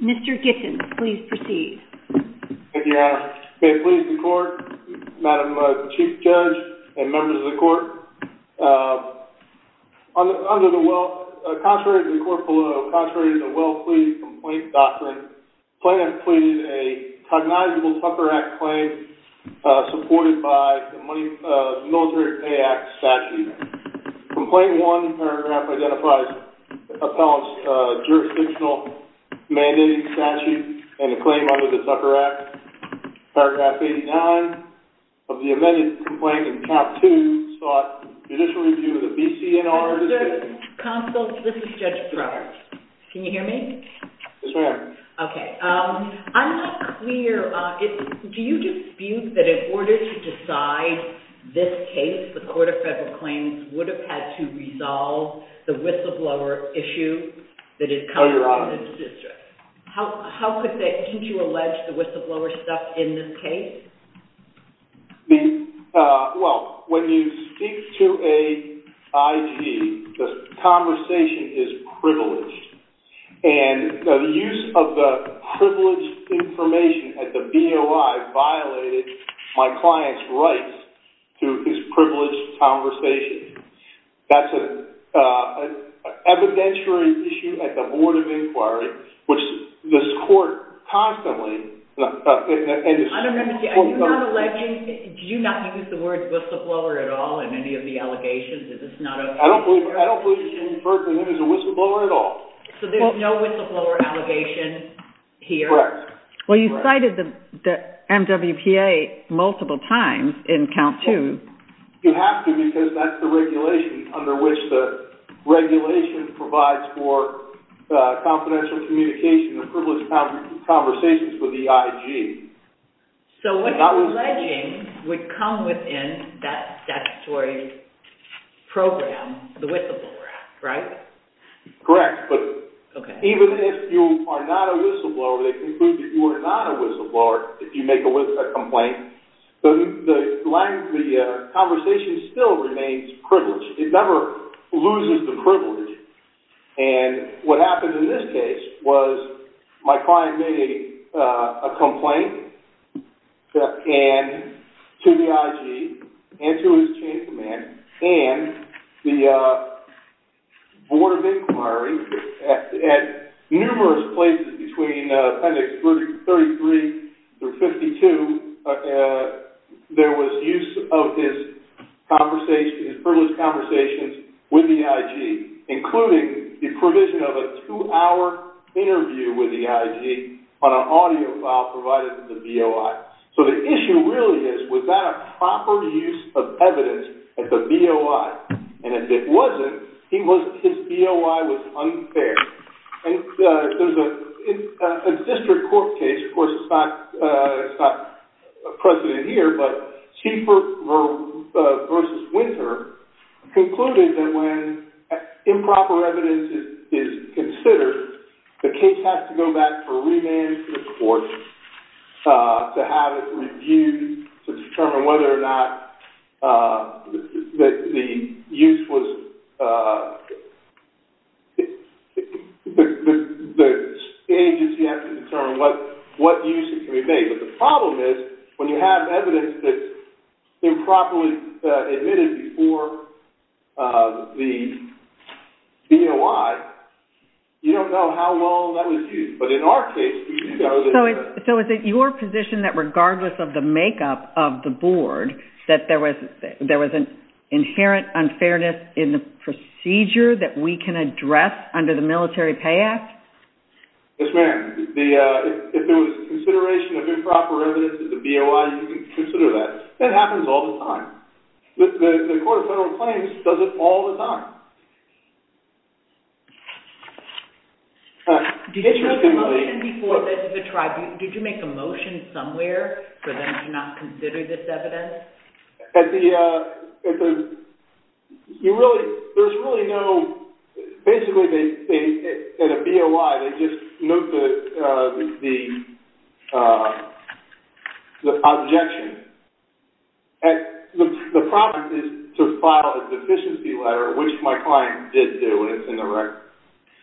Mr. Gittins, please proceed. Thank you, Your Honor. May it please the Court, Madam Chief Judge and Members of the Court, Contrary to the court below, contrary to the well-pleased complaint doctrine, the plaintiff pleaded a cognizable Tucker Act claim supported by the Military Pay Act statute. Complaint 1 in paragraph identifies the appellant's jurisdictional mandated statute and the claim under the Tucker Act. Paragraph 89 of the amended complaint in count 2 sought judicial review of the B.C.N.R. Counsel, this is Judge Brower. Can you hear me? Yes, ma'am. Okay. I'm not clear. Do you dispute that in order to decide this case, the Court of Federal Claims would have had to resolve the whistleblower issue that had come up in this district? Oh, Your Honor. How could that, can't you allege the whistleblower stuff in this case? Well, when you speak to a IG, the conversation is privileged. And the use of the privileged information at the BOI violated my client's rights to his privileged conversation. That's an evidentiary issue at the Board of Inquiry, which this Court constantly I don't understand. Are you not alleging, do you not use the word whistleblower at all in any of the allegations? Is this not a I don't believe you can refer to it as a whistleblower at all. So there's no whistleblower allegation here? Correct. Well, you cited the MWPA multiple times in count 2. You have to because that's the regulation under which the regulation provides for confidential communication and privileged conversations with the IG. So what alleging would come within that statutory program, the whistleblower act, right? Correct. But even if you are not a whistleblower, they conclude that you are not a whistleblower if you make a complaint, the conversation still remains privileged. It never loses the privilege. And what happened in this case was my client made a complaint to the IG and to his chain of command and the Board of Inquiry at numerous places between Appendix 33 through 52, there was use of his privileged conversations with the IG, including the provision of a two-hour interview with the IG on an audio file provided to the BOI. So the issue really is, was that a proper use of evidence at the BOI? And if it wasn't, his BOI was unfair. There's a district court case, of course it's not a precedent here, but Schieffer v. Winter concluded that when improper evidence is considered, the case has to go back for remand to the court to have it reviewed to determine whether or not the use was... The agency has to determine what use it can be made. But the problem is, when you have evidence that's improperly admitted before the BOI, you don't know how long that was used. But in our case, we do know that... So is it your position that regardless of the makeup of the Board, that there was an inherent unfairness in the procedure that we can address under the Military Pay Act? Yes, ma'am. If there was consideration of improper evidence at the BOI, you can consider that. That happens all the time. The Court of Federal Claims does it all the time. Did you make a motion somewhere for them to not consider this evidence? At the... You really... There's really no... Basically, at a BOI, they just note the objection. The problem is to file a deficiency letter, which my client did do, and it's in the record.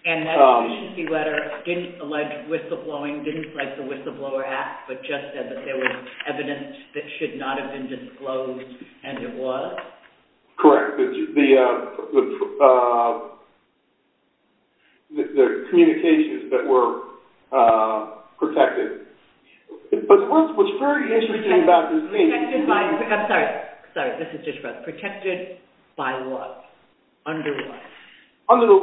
And that deficiency letter didn't allege whistleblowing, didn't place a whistleblower act, but just said that there was evidence that should not have been disclosed, and there was? Correct. The communications that were protected. But what's very interesting about this... Protected by... I'm sorry. Sorry. This is just for us. Protected by what? Under what? Under the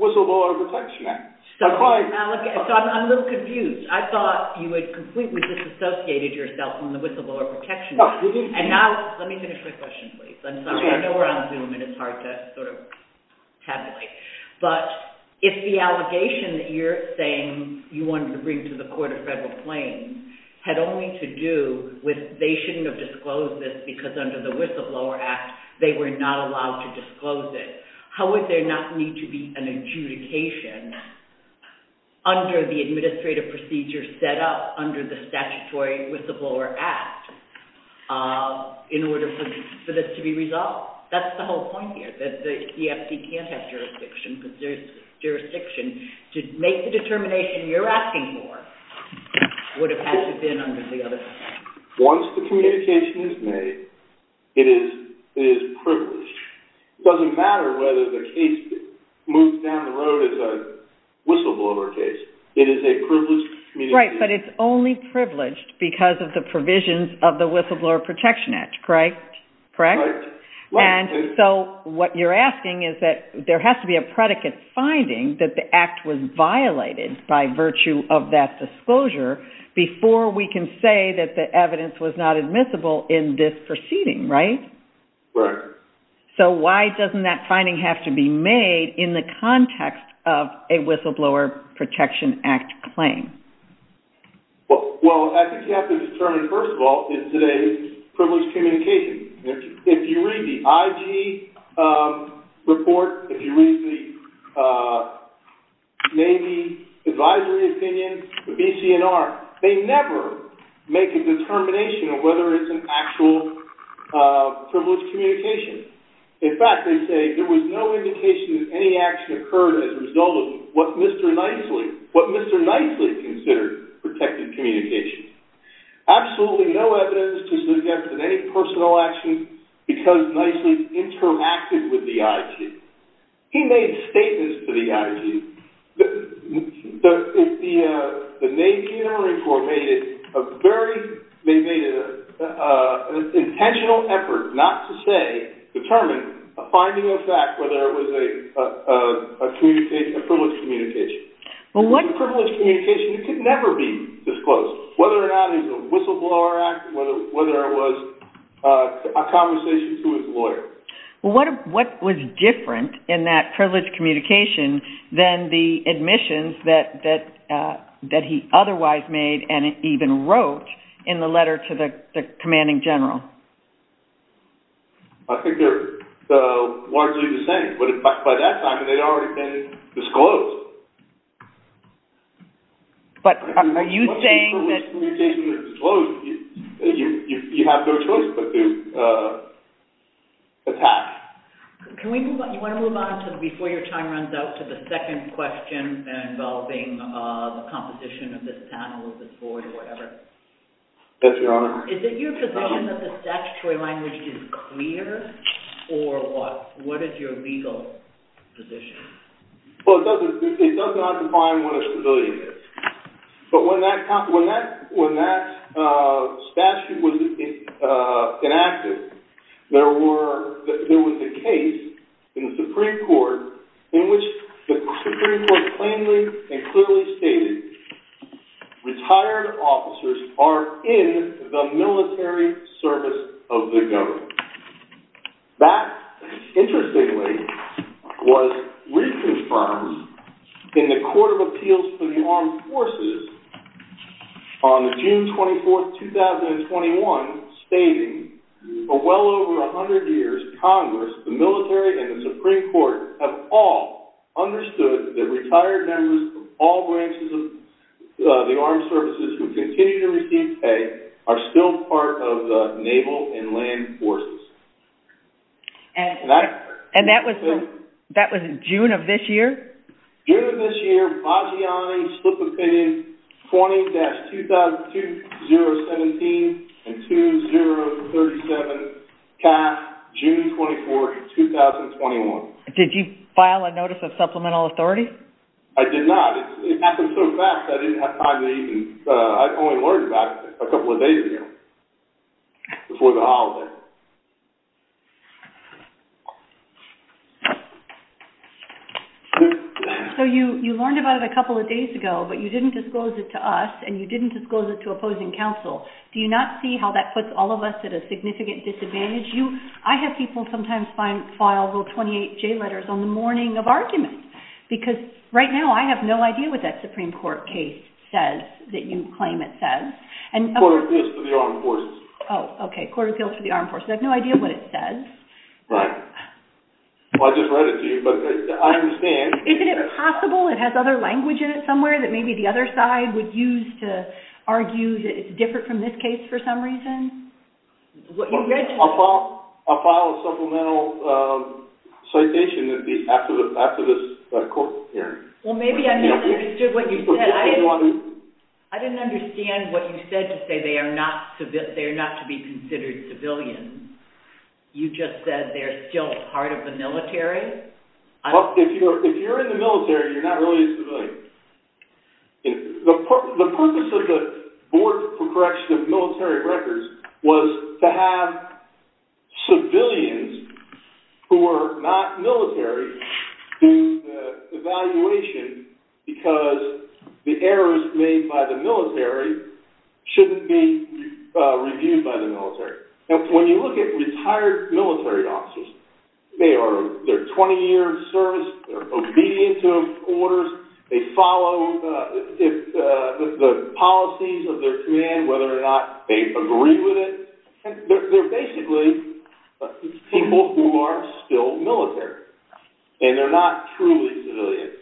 Whistleblower Protection Act. So I'm a little confused. I thought you had completely disassociated yourself from the Whistleblower Protection Act. And now... Let me finish my question, please. I'm sorry. I know we're on Zoom, and it's hard to sort of tabulate. But if the allegation that you're saying you wanted to bring to the Court of Federal Claims had only to do with they shouldn't have disclosed this because under the Whistleblower Act, they were not allowed to disclose it, how would there not need to be an adjudication under the administrative procedure set up under the statutory Whistleblower Act in order for this to be resolved? Well, that's the whole point here, that the EFD can't have jurisdiction, because jurisdiction to make the determination you're asking for would have had to have been under the other... Once the communication is made, it is privileged. It doesn't matter whether the case moves down the road as a whistleblower case. It is a privileged communication. Right, but it's only privileged because of the provisions of the Whistleblower Protection Act, correct? Right. And so what you're asking is that there has to be a predicate finding that the act was violated by virtue of that disclosure before we can say that the evidence was not admissible in this proceeding, right? Right. So why doesn't that finding have to be made in the context of a Whistleblower Protection Act claim? Well, I think you have to determine, first of all, in today's privileged communication, if you read the IG report, if you read the Navy Advisory Opinion, the BCNR, they never make a determination of whether it's an actual privileged communication. In fact, they say there was no indication that any action occurred as a result of what Mr. Knightley, what Mr. Knightley considered protected communication. Absolutely no evidence to suggest that any personal action because Knightley interacted with the IG. He made statements to the IG. The Navy General Report made an intentional effort not to say, determine a finding of fact whether it was a privileged communication. Well, what... It was a privileged communication. It could never be disclosed whether or not it was a whistleblower act, whether it was a conversation to his lawyer. Well, what was different in that privileged communication than the admissions that he otherwise made and even wrote in the letter to the commanding general? I think they're largely the same. But by that time, they'd already been disclosed. But are you saying that... Privileged communication is disclosed. You have no choice but to attack. Can we move on? Do you want to move on before your time runs out to the second question involving the composition of this panel, of this board, or whatever? Yes, Your Honor. Is it your position that the statutory language is clear or what? What is your legal position? Well, it does not define what a civilian is. But when that statute was enacted, there was a case in the Supreme Court in which the Supreme Court plainly and clearly stated retired officers are in the military service of the government. That, interestingly, was reconfirmed in the Court of Appeals for the Armed Forces on June 24, 2021, stating for well over 100 years, Congress, the military, and the Supreme Court have all understood that the retired members of all branches of the armed services who continue to receive pay are still part of the naval and land forces. And that was in June of this year? June of this year, Vagiani, split opinion, 20-20017 and 2037, CAF, June 24, 2021. Did you file a notice of supplemental authority? I did not. It happened so fast, I didn't have time to even, I only learned about it a couple of days ago, before the holiday. So you learned about it a couple of days ago, but you didn't disclose it to us, and you didn't disclose it to opposing counsel. Do you not see how that puts all of us at a significant disadvantage? I have people sometimes file little 28-J letters on the morning of arguments, because right now I have no idea what that Supreme Court case says that you claim it says. Court of Appeals for the Armed Forces. Oh, okay, Court of Appeals for the Armed Forces. I have no idea what it says. Right. Well, I just read it to you, but I understand. Isn't it possible it has other language in it somewhere that maybe the other side would use to argue that it's different from this case for some reason? I'll file a supplemental citation after this court hearing. Well, maybe I misunderstood what you said. I didn't understand what you said to say they are not to be considered civilians. You just said they're still part of the military. Well, if you're in the military, you're not really a civilian. The purpose of the Board for Correction of Military Records was to have civilians who were not military do the evaluation because the errors made by the military shouldn't be reviewed by the military. When you look at retired military officers, they are 20 years of service, they're obedient to orders, they follow the policies of their command, whether or not they agree with it. They're basically people who are still military, and they're not truly civilians.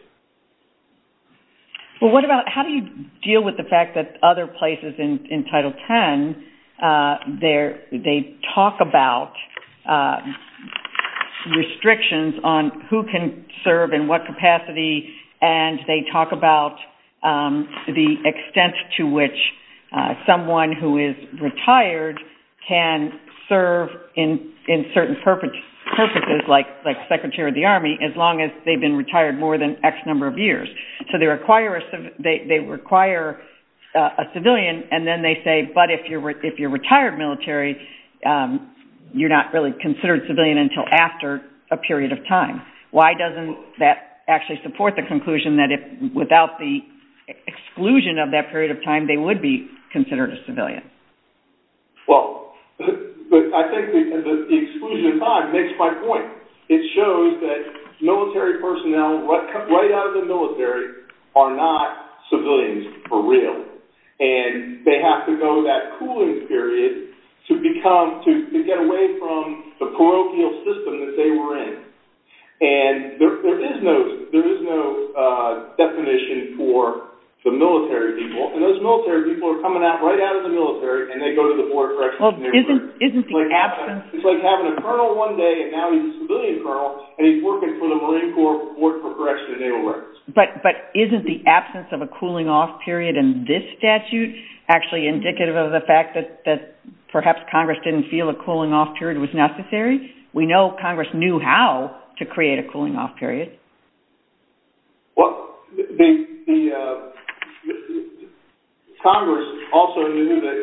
Well, how do you deal with the fact that other places in Title X, they talk about restrictions on who can serve in what capacity, and they talk about the extent to which someone who is retired can serve in certain purposes, like Secretary of the Army, as long as they've been retired more than X number of years. So they require a civilian, and then they say, but if you're retired military, you're not really considered civilian until after a period of time. Why doesn't that actually support the conclusion that without the exclusion of that period of time, they would be considered a civilian? Well, I think the exclusion of time makes my point. It shows that military personnel right out of the military are not civilians for real, and they have to go that cooling period to get away from the parochial system that they were in. And there is no definition for the military people, and those military people are coming out right out of the military, and they go to the board of directors, and they're like, it's like having a colonel one day, and now he's a civilian colonel, and he's working for the Marine Corps, working for corrections and naval records. But isn't the absence of a cooling off period in this statute actually indicative of the fact that perhaps Congress didn't feel a cooling off period was necessary? We know Congress knew how to create a cooling off period. Well, Congress also knew that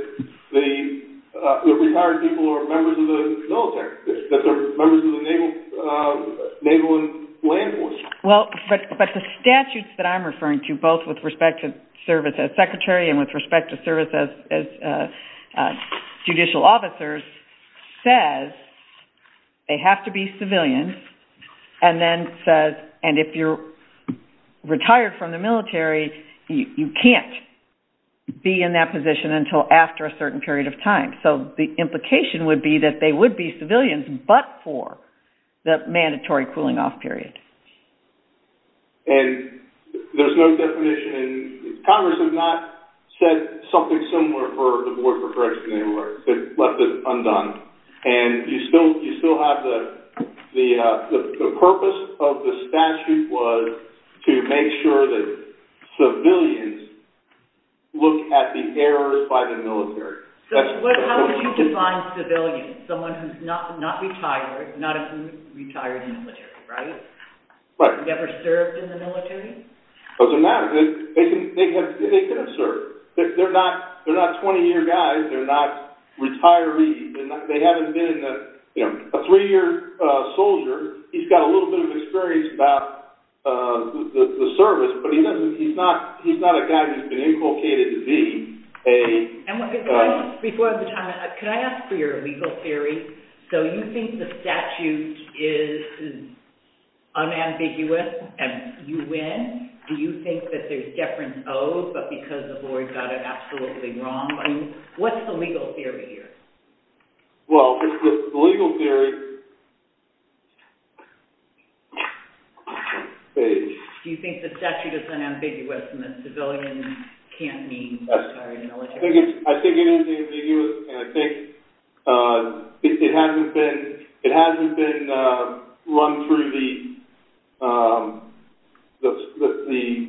the retired people are members of the military, that they're members of the naval land force. Well, but the statutes that I'm referring to, both with respect to service as secretary and with respect to service as judicial officers, says they have to be civilian, and then says, and if you're retired from the military, you can't be in that position until after a certain period of time. So the implication would be that they would be civilians, but for the mandatory cooling off period. And there's no definition. Congress has not said something similar for the board for corrections and naval records. They've left it undone, and you still have the purpose of the statute was to make sure that civilians look at the errors by the military. So how would you define civilian? Someone who's not retired, not a retired military, right? Right. Never served in the military? It doesn't matter. They could have served. They're not 20-year guys. They're not retirees. They haven't been a three-year soldier. He's got a little bit of experience about the service, but he's not a guy who's been inculcated to be. Before the time, could I ask for your legal theory? So you think the statute is unambiguous and you win? Do you think that there's deference of, but because the board got it absolutely wrong? What's the legal theory here? Well, the legal theory is. Do you think the statute is unambiguous and that civilians can't mean retired military? I think it is ambiguous, and I think it hasn't been run through the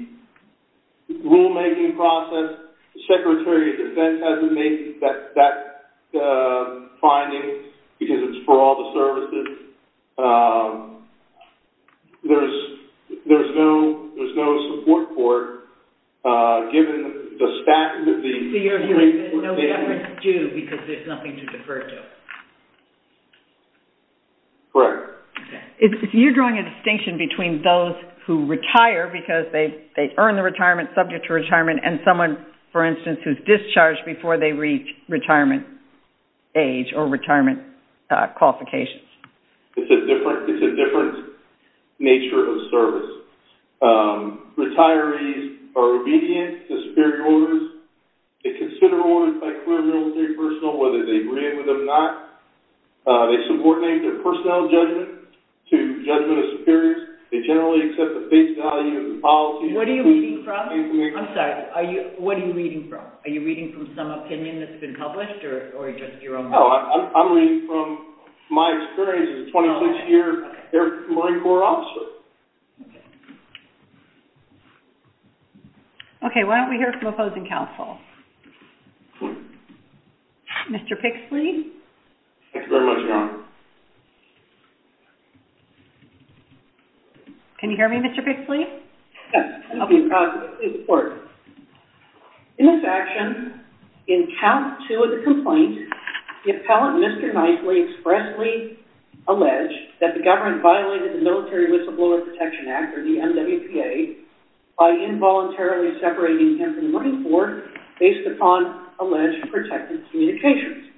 rulemaking process. The Secretary of Defense hasn't made that finding because it's for all the services. There's no support for it given the statute. So you're saying there's no deference due because there's nothing to defer to? Correct. Okay. If you're drawing a distinction between those who retire because they earn the retirement, subject to retirement, and someone, for instance, who's discharged before they reach retirement age or retirement qualifications? It's a different nature of service. Retirees are obedient to superior orders. They consider orders by career military personnel, whether they agree with them or not. They support their personnel judgment to judgment of superiors. They generally accept the face value of the policy. What are you reading from? I'm sorry. What are you reading from? Are you reading from some opinion that's been published or just your own? No. I'm reading from my experience as a 26-year Marine Corps officer. Okay. Why don't we hear from opposing counsel? Mr. Pixley? Thank you very much, ma'am. Can you hear me, Mr. Pixley? Yes. Please report. In this action, in count two of the complaint, the appellant, Mr. Knightley, expressly alleged that the government violated the Military Whistleblower Protection Act, or the MWPA, by involuntarily separating him from the Marine Corps based upon alleged protected communications.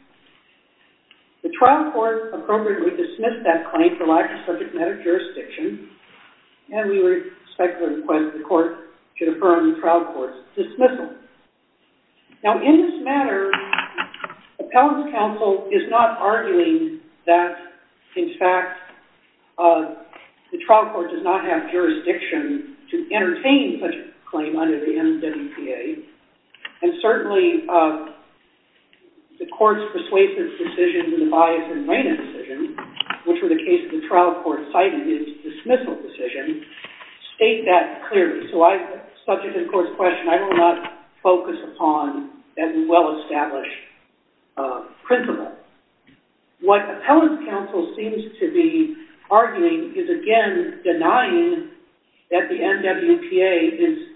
The trial court appropriately dismissed that claim for lack of subject matter jurisdiction, and we respectfully request that the court should affirm the trial court's dismissal. Now, in this matter, appellant counsel is not arguing that, in fact, the trial court does not have jurisdiction to entertain such a claim under the MWPA, and certainly the court's persuasive decision to the bias and rein in decision, which were the cases the trial court cited, is a dismissal decision, state that clearly. So subject to the court's question, I will not focus upon that well-established principle. What appellant counsel seems to be arguing is, again, denying that the MWPA is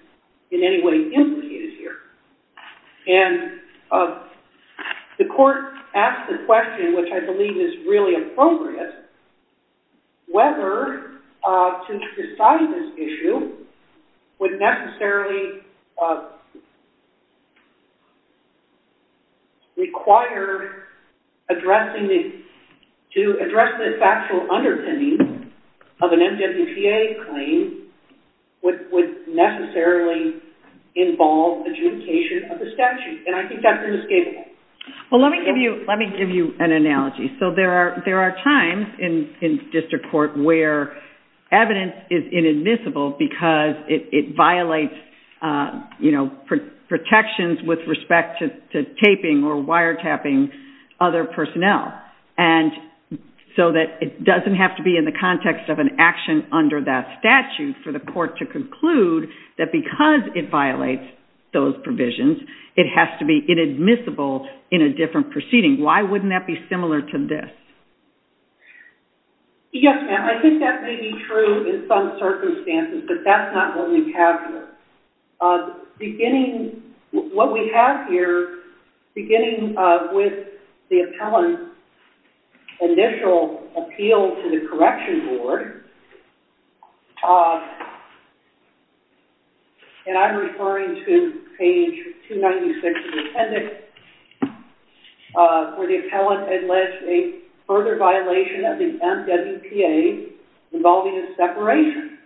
in any way implicated here. And the court asked the question, which I believe is really appropriate, whether to decide this issue would necessarily require addressing the factual underpinnings of an MWPA claim would necessarily involve adjudication of the statute. And I think that's inescapable. Well, let me give you an analogy. So there are times in district court where evidence is inadmissible because it violates protections with respect to taping or wiretapping other personnel. And so that it doesn't have to be in the context of an action under that statute for the court to conclude that because it violates those provisions, it has to be inadmissible in a different proceeding. Why wouldn't that be similar to this? Yes, ma'am, I think that may be true in some circumstances, but that's not what we have here. Beginning, what we have here, beginning with the appellant's initial appeal to the correction board, here, and I'm referring to page 296 of the appendix, where the appellant alleged a further violation of the MWPA involving a separation.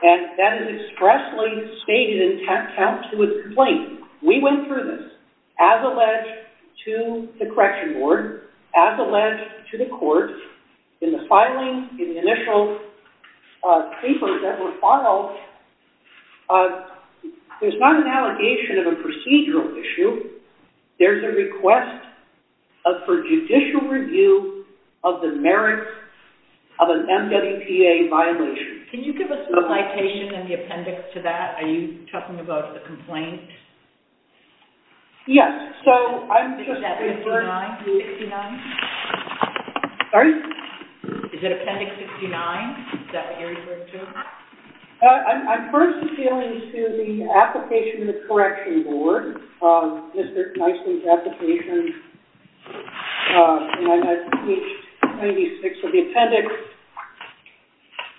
And that is expressly stated in tap counts to a complaint. We went through this. As alleged to the correction board, as alleged to the court, in the filing, in the initial papers that were filed, there's not an allegation of a procedural issue. There's a request for judicial review of the merits of an MWPA violation. Can you give us the citation in the appendix to that? Are you talking about the complaint? Yes, so I'm just referring to... Is that appendix 69? Sorry? Is it appendix 69? Is that what you're referring to? I'm first appealing to the application of the correction board, Mr. Knightson's application, and I'm at page 296 of the appendix,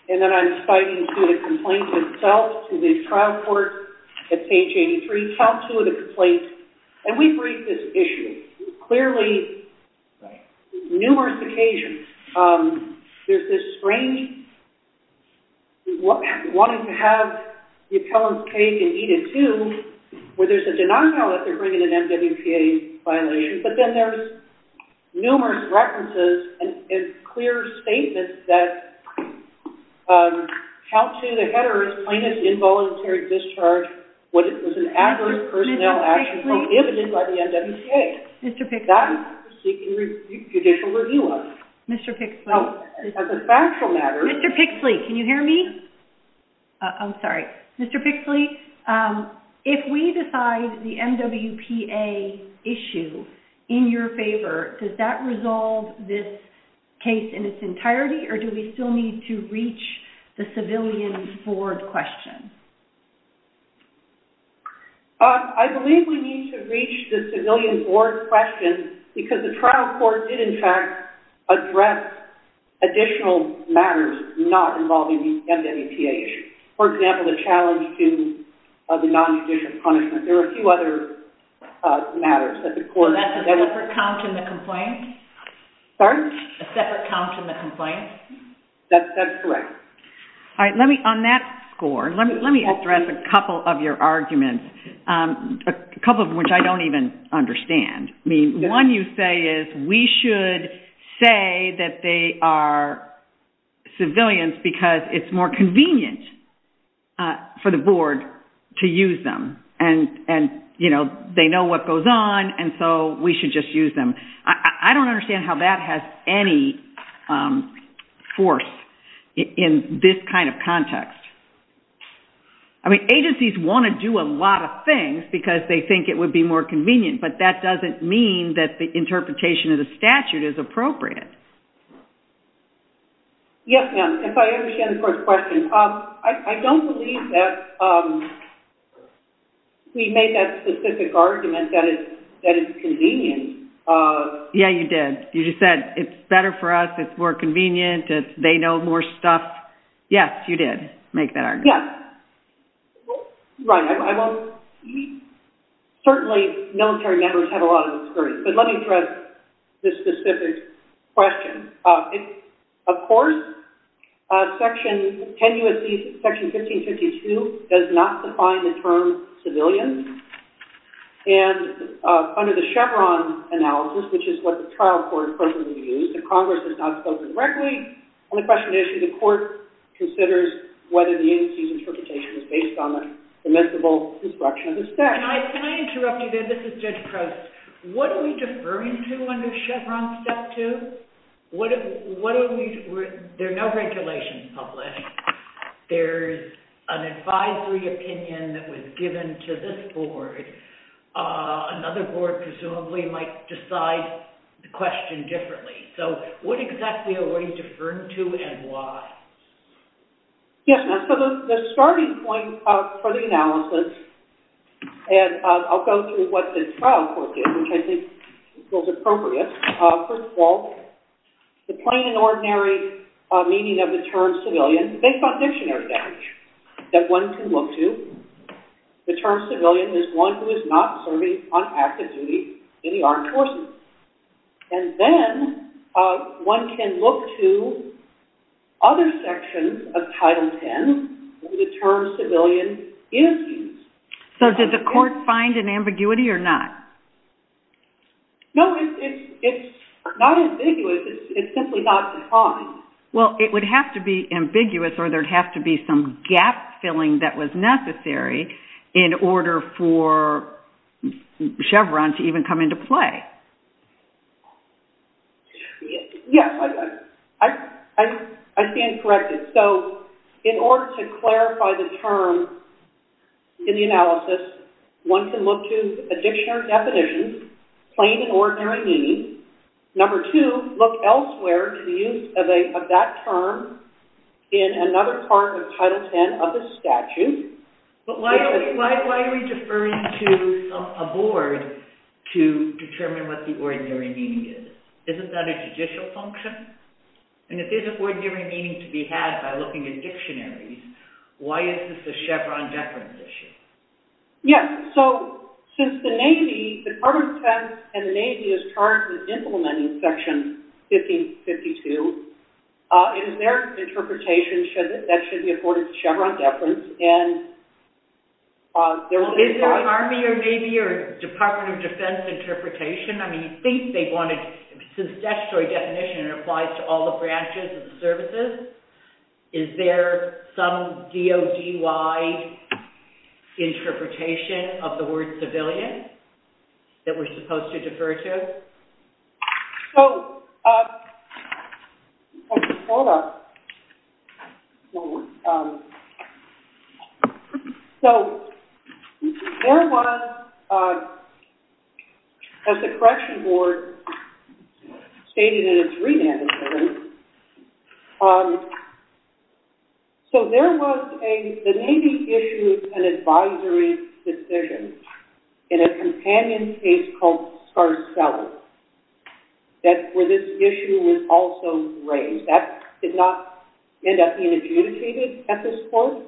and then I'm citing to the complaint itself to the trial court at page 83, count two of the complaint, and we bring this issue. Clearly, numerous occasions, there's this strange wanting to have the appellant's page in Eda 2 where there's a denial that they're bringing an MWPA violation, but then there's numerous references and clear statements that count two, and then the header is plaintiff's involuntary discharge was an adverse personnel action prohibited by the MWPA. Mr. Pixley. That is to seek judicial review of. Mr. Pixley. As a factual matter... Mr. Pixley, can you hear me? I'm sorry. Mr. Pixley, if we decide the MWPA issue in your favor, does that resolve this case in its entirety, or do we still need to reach the civilian board question? I believe we need to reach the civilian board question because the trial court did, in fact, address additional matters not involving the MWPA issue. For example, the challenge to the non-judicial punishment. There are a few other matters that the court... That's a separate count in the complaint? Sorry? A separate count in the complaint? That's correct. All right. On that score, let me address a couple of your arguments, a couple of which I don't even understand. One you say is we should say that they are civilians because it's more convenient for the board to use them, and they know what goes on, and so we should just use them. I don't understand how that has any force in this kind of context. Agencies want to do a lot of things because they think it would be more convenient, but that doesn't mean that the interpretation of the statute is appropriate. Yes, ma'am, if I understand the first question. I don't believe that we made that specific argument that it's convenient. Yeah, you did. You just said it's better for us, it's more convenient, they know more stuff. Yes, you did make that argument. Yes. Certainly, military members have a lot of experience, but let me address this specific question. Of course, Section 1552 does not define the term civilian, and under the Chevron analysis, which is what the trial court personally used, the Congress has not spoken directly. The only question is if the court considers whether the agency's interpretation is based on the permissible destruction of the statute. Can I interrupt you there? This is Judge Crouse. What are we deferring to under Chevron Step 2? There are no regulations published. There's an advisory opinion that was given to this board. Another board, presumably, might decide the question differently. So, what exactly are we deferring to and why? Yes, so the starting point for the analysis, and I'll go through what the trial court did, which I think feels appropriate. First of all, the plain and ordinary meaning of the term civilian is based on dictionary language that one can look to. The term civilian is one who is not serving on active duty in the armed forces. And then, one can look to other sections of Title 10 where the term civilian is used. So, did the court find an ambiguity or not? No, it's not ambiguous. It's simply not defined. Well, it would have to be ambiguous or there would have to be some gap-filling that was necessary in order for Chevron to even come into play. Yes, I stand corrected. So, in order to clarify the term in the analysis, one can look to a dictionary definition, plain and ordinary meaning. Number two, look elsewhere to the use of that term in another part of Title 10 of the statute. But why are we deferring to a board to determine what the ordinary meaning is? Isn't that a judicial function? And if there's ordinary meaning to be had by looking at dictionaries, why is this a Chevron deference issue? Yes, so, since the Navy, the Department of Defense and the Navy is charged with implementing Section 1552, in their interpretation, that should be afforded Chevron deference. Is there an Army or Navy or Department of Defense interpretation? I mean, you'd think they'd want to, since the dictionary definition applies to all the branches of the services, is there some DOD-wide interpretation of the word civilian that we're supposed to defer to? So, so, there was, as the Correction Board stated in its re-mandatory, so there was a, the Navy issued an advisory decision in a companion case called Scarcella where this issue was also raised. That did not end up being adjudicated at this point.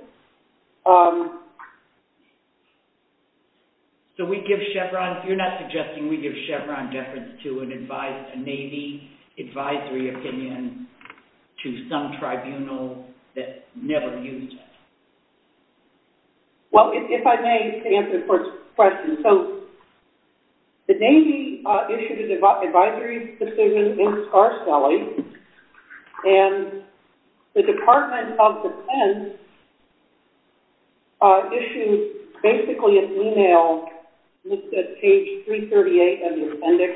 So we give Chevron, you're not suggesting we give Chevron deference to an advisory opinion to some tribunal that never used it? Well, if I may, just to answer the first question. So, the Navy issued an advisory decision in Scarcella and the Department of Defense issued basically an email listed at page 338 of the appendix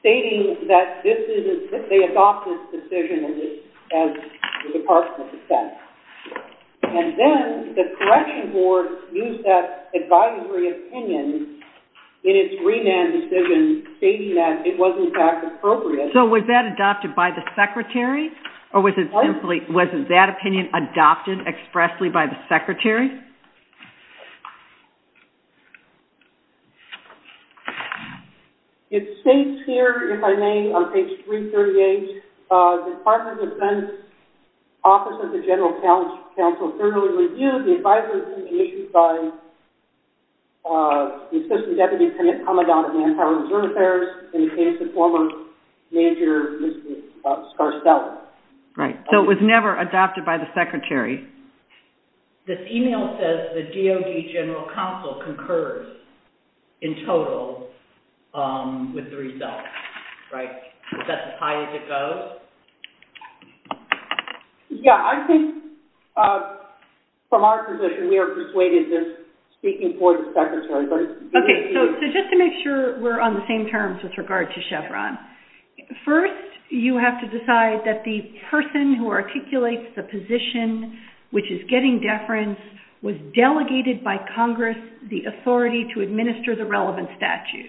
stating that this is, that they adopted this decision as the Department of Defense. And then the Correction Board used that advisory opinion in its re-mand decision stating that it was in fact appropriate. So was that adopted by the Secretary? Or was it simply, wasn't that opinion adopted expressly by the Secretary? It states here, if I may, on page 338, the Department of Defense Office of the General Counsel thoroughly reviewed the advisory opinion issued by the Assistant Deputy Commandant of the Empire Reserve Affairs in the case of former Major Mr. Scarcella. Right, so it was never adopted by the Secretary. This email says the DOD General Counsel concurs in total with the results, right? Is that as high as it goes? Yeah, I think from our position we are persuaded that speaking for the Secretary. Okay, so just to make sure we're on the same terms with regard to Chevron. First, you have to decide that the person who articulates the position which is getting deference was delegated by Congress the authority to administer the relevant statute.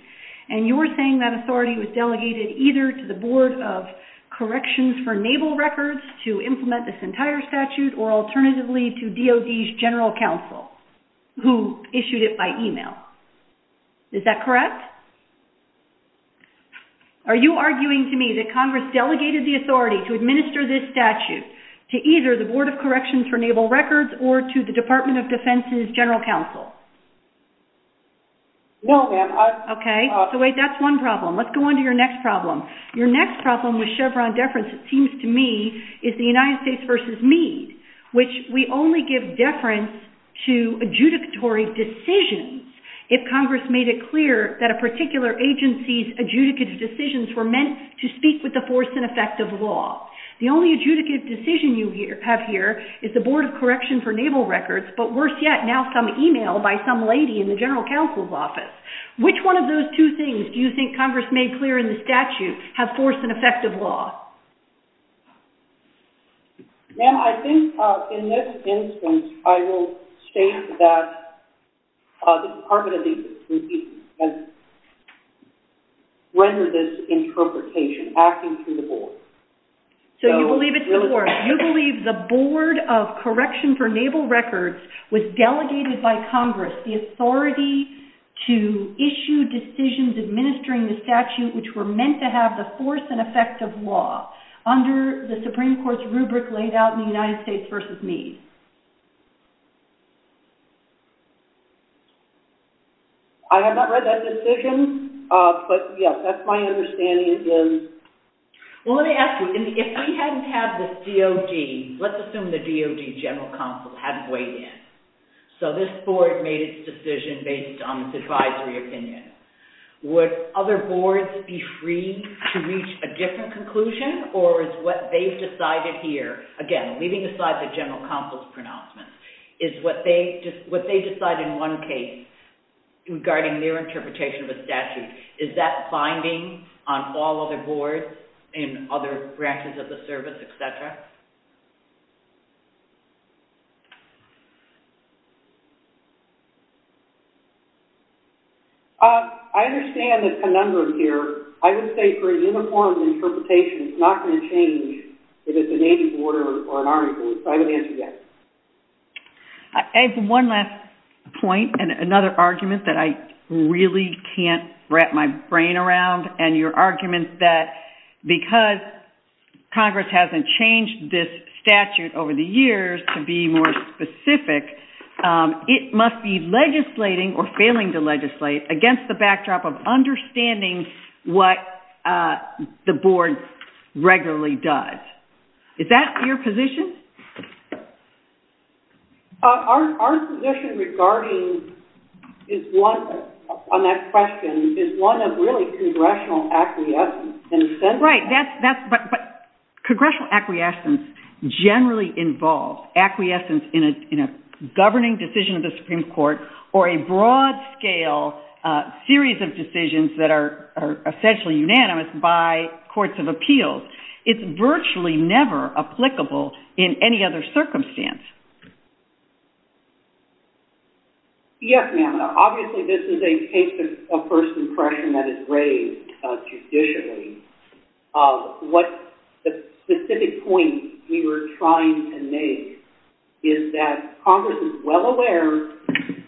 And you're saying that authority was delegated either to the Board of Corrections for Naval Records to implement this entire statute or alternatively to DOD's General Counsel who issued it by email. Is that correct? Are you arguing to me that Congress delegated the authority to administer this statute to either the Board of Corrections for Naval Records or to the Department of Defense's General Counsel? Well, ma'am, I... Okay, so wait, that's one problem. Let's go on to your next problem. Your next problem with Chevron deference it seems to me is the United States v. Meade which we only give deference to adjudicatory decisions if Congress made it clear that a particular agency's adjudicative decisions were meant to speak with the force and effect of law. The only adjudicative decision you have here is the Board of Corrections for Naval Records but worse yet, now some email by some lady in the General Counsel's office. Which one of those two things do you think Congress made clear in the statute have force and effect of law? Ma'am, I think in this instance I will state that the Department of Defense has rendered this interpretation acting through the Board. So you believe it's the Board. You believe the Board of Corrections for Naval Records was delegated by Congress the authority to issue decisions administering the statute which were meant to have the force and effect of law under the Supreme Court's rubric laid out in the United States v. Meade. I have not read that decision but yes, that's my understanding. Well let me ask you if we hadn't had the DOD let's assume the DOD General Counsel hadn't weighed in so this Board made its decision based on its advisory opinion. Would other Boards be free to reach a different conclusion or is what they've decided here again, leaving aside the General Counsel's pronouncements is what they decide in one case regarding their interpretation of the statute is that binding on all other Boards and other branches of the service, etc.? I understand the conundrum here. I would say for a uniform interpretation it's not going to change if it's a Navy Board or an Army Board. So I would answer yes. I have one last point and another argument that I really can't wrap my brain around and your argument that because Congress hasn't changed this statute over the years to be more specific it must be legislating or failing to legislate against the backdrop of understanding what the Board regularly does. Is that your position? Our position regarding is one on that question is one of really Congressional acquiescence Right, that's but Congressional acquiescence generally involves acquiescence in a governing decision of the Supreme Court or a broad scale series of decisions that are essentially unanimous by courts of appeals. It's virtually never applicable in any other circumstance. Yes, ma'am. Obviously this is a case of first impression that is raised judicially. What the specific point we were trying to make is that Congress is well aware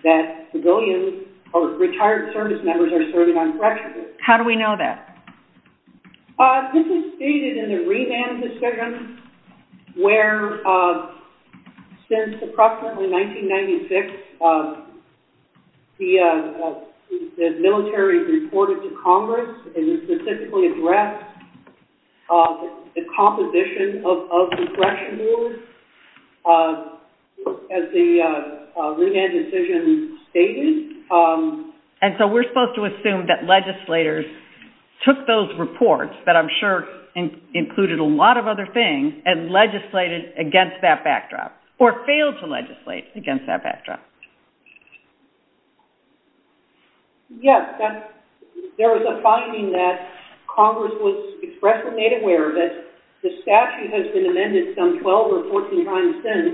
that civilians or retired service members are serving on corrections. How do we know that? This is stated in the remand decision where since approximately 1996 the military reported to Congress and specifically addressed the composition of the correction board as the remand decision stated. And so we're supposed to assume that legislators took those reports that I'm sure included a lot of other things and legislated against that backdrop or failed to legislate against that backdrop. Yes, there was a finding that Congress was expressly made aware that the statute has been amended some 12 or 14 times since.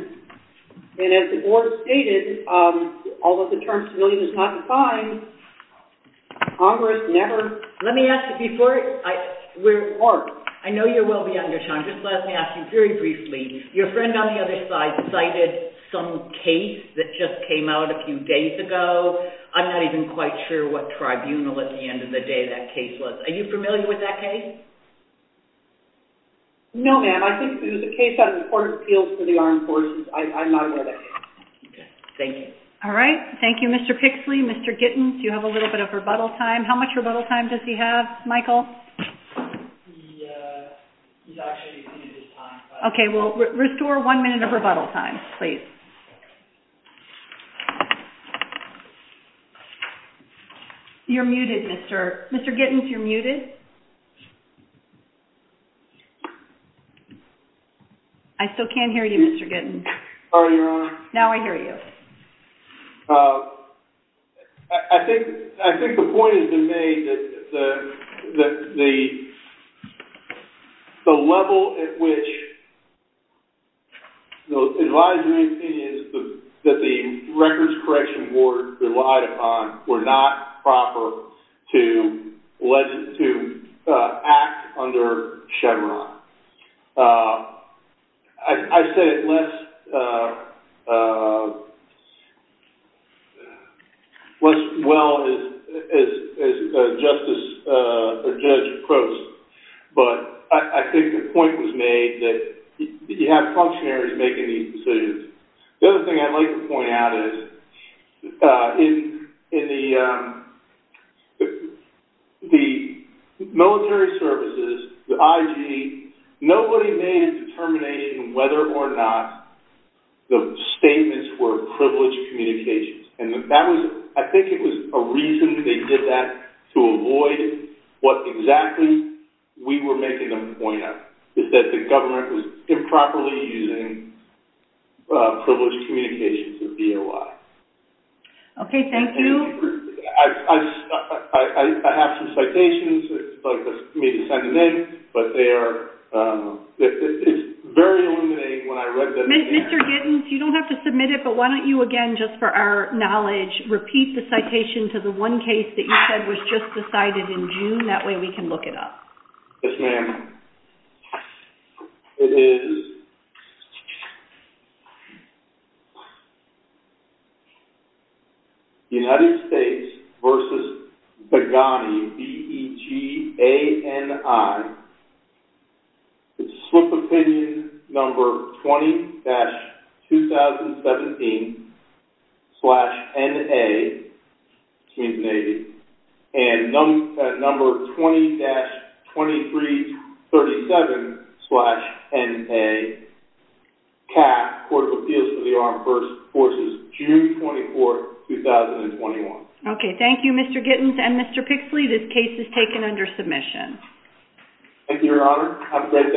And as the board stated although the term civilian is not defined Congress never... Let me ask you before we're off. I know you're well beyond your time. Just let me ask you very briefly. Your friend on the other side cited some case that just came out a few days ago. I'm not even quite sure what tribunal at the end of the day that case was. Are you familiar with that case? No, ma'am. I think it was a case out of the Court of Appeals for the Armed Forces. I'm not aware of that case. Thank you. Thank you, Mr. Pixley. Mr. Gittins, you have a little bit of rebuttal time. How much rebuttal time does he have, Michael? He's actually exceeded his time. Restore one minute of rebuttal time, please. You're muted, Mr... Mr. Gittins, you're muted. I still can't hear you, Mr. Gittins. Sorry, Your Honor. Now I hear you. I think the point has been made that the level at which those advisories seem to be a little bit that the records correction board relied upon were not proper to act under Chevron. I say it less well as a judge approves. But I think the point was made that you have the other thing I'd like to point out is in military services, the IG, nobody made a determination whether or not the statements were privileged communications. I think it was a reason they did that to avoid what exactly we were making a point of. That the government was improperly using privileged communications with DOI. Okay, thank you. have some citations. It's up to me to send them in. But they are... It's very illuminating when I read... Mr. Gittins, you don't have to submit it, but why don't you, again, just for our knowledge, repeat the citation to the in June. That way we can look it up. Yes, ma'am. It is United States versus Begani B-E-G-A-N-I It's swift opinion number 20-2017 slash N-A between the Navy and number 20-2337 slash N-A CAC, Court of Appeals for the Armed Forces, June 24, 2021. Okay, thank you, Mr. Gittins and Mr. Pixley. This case is taken under submission. Thank you, Your Honor. Have a great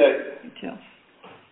day.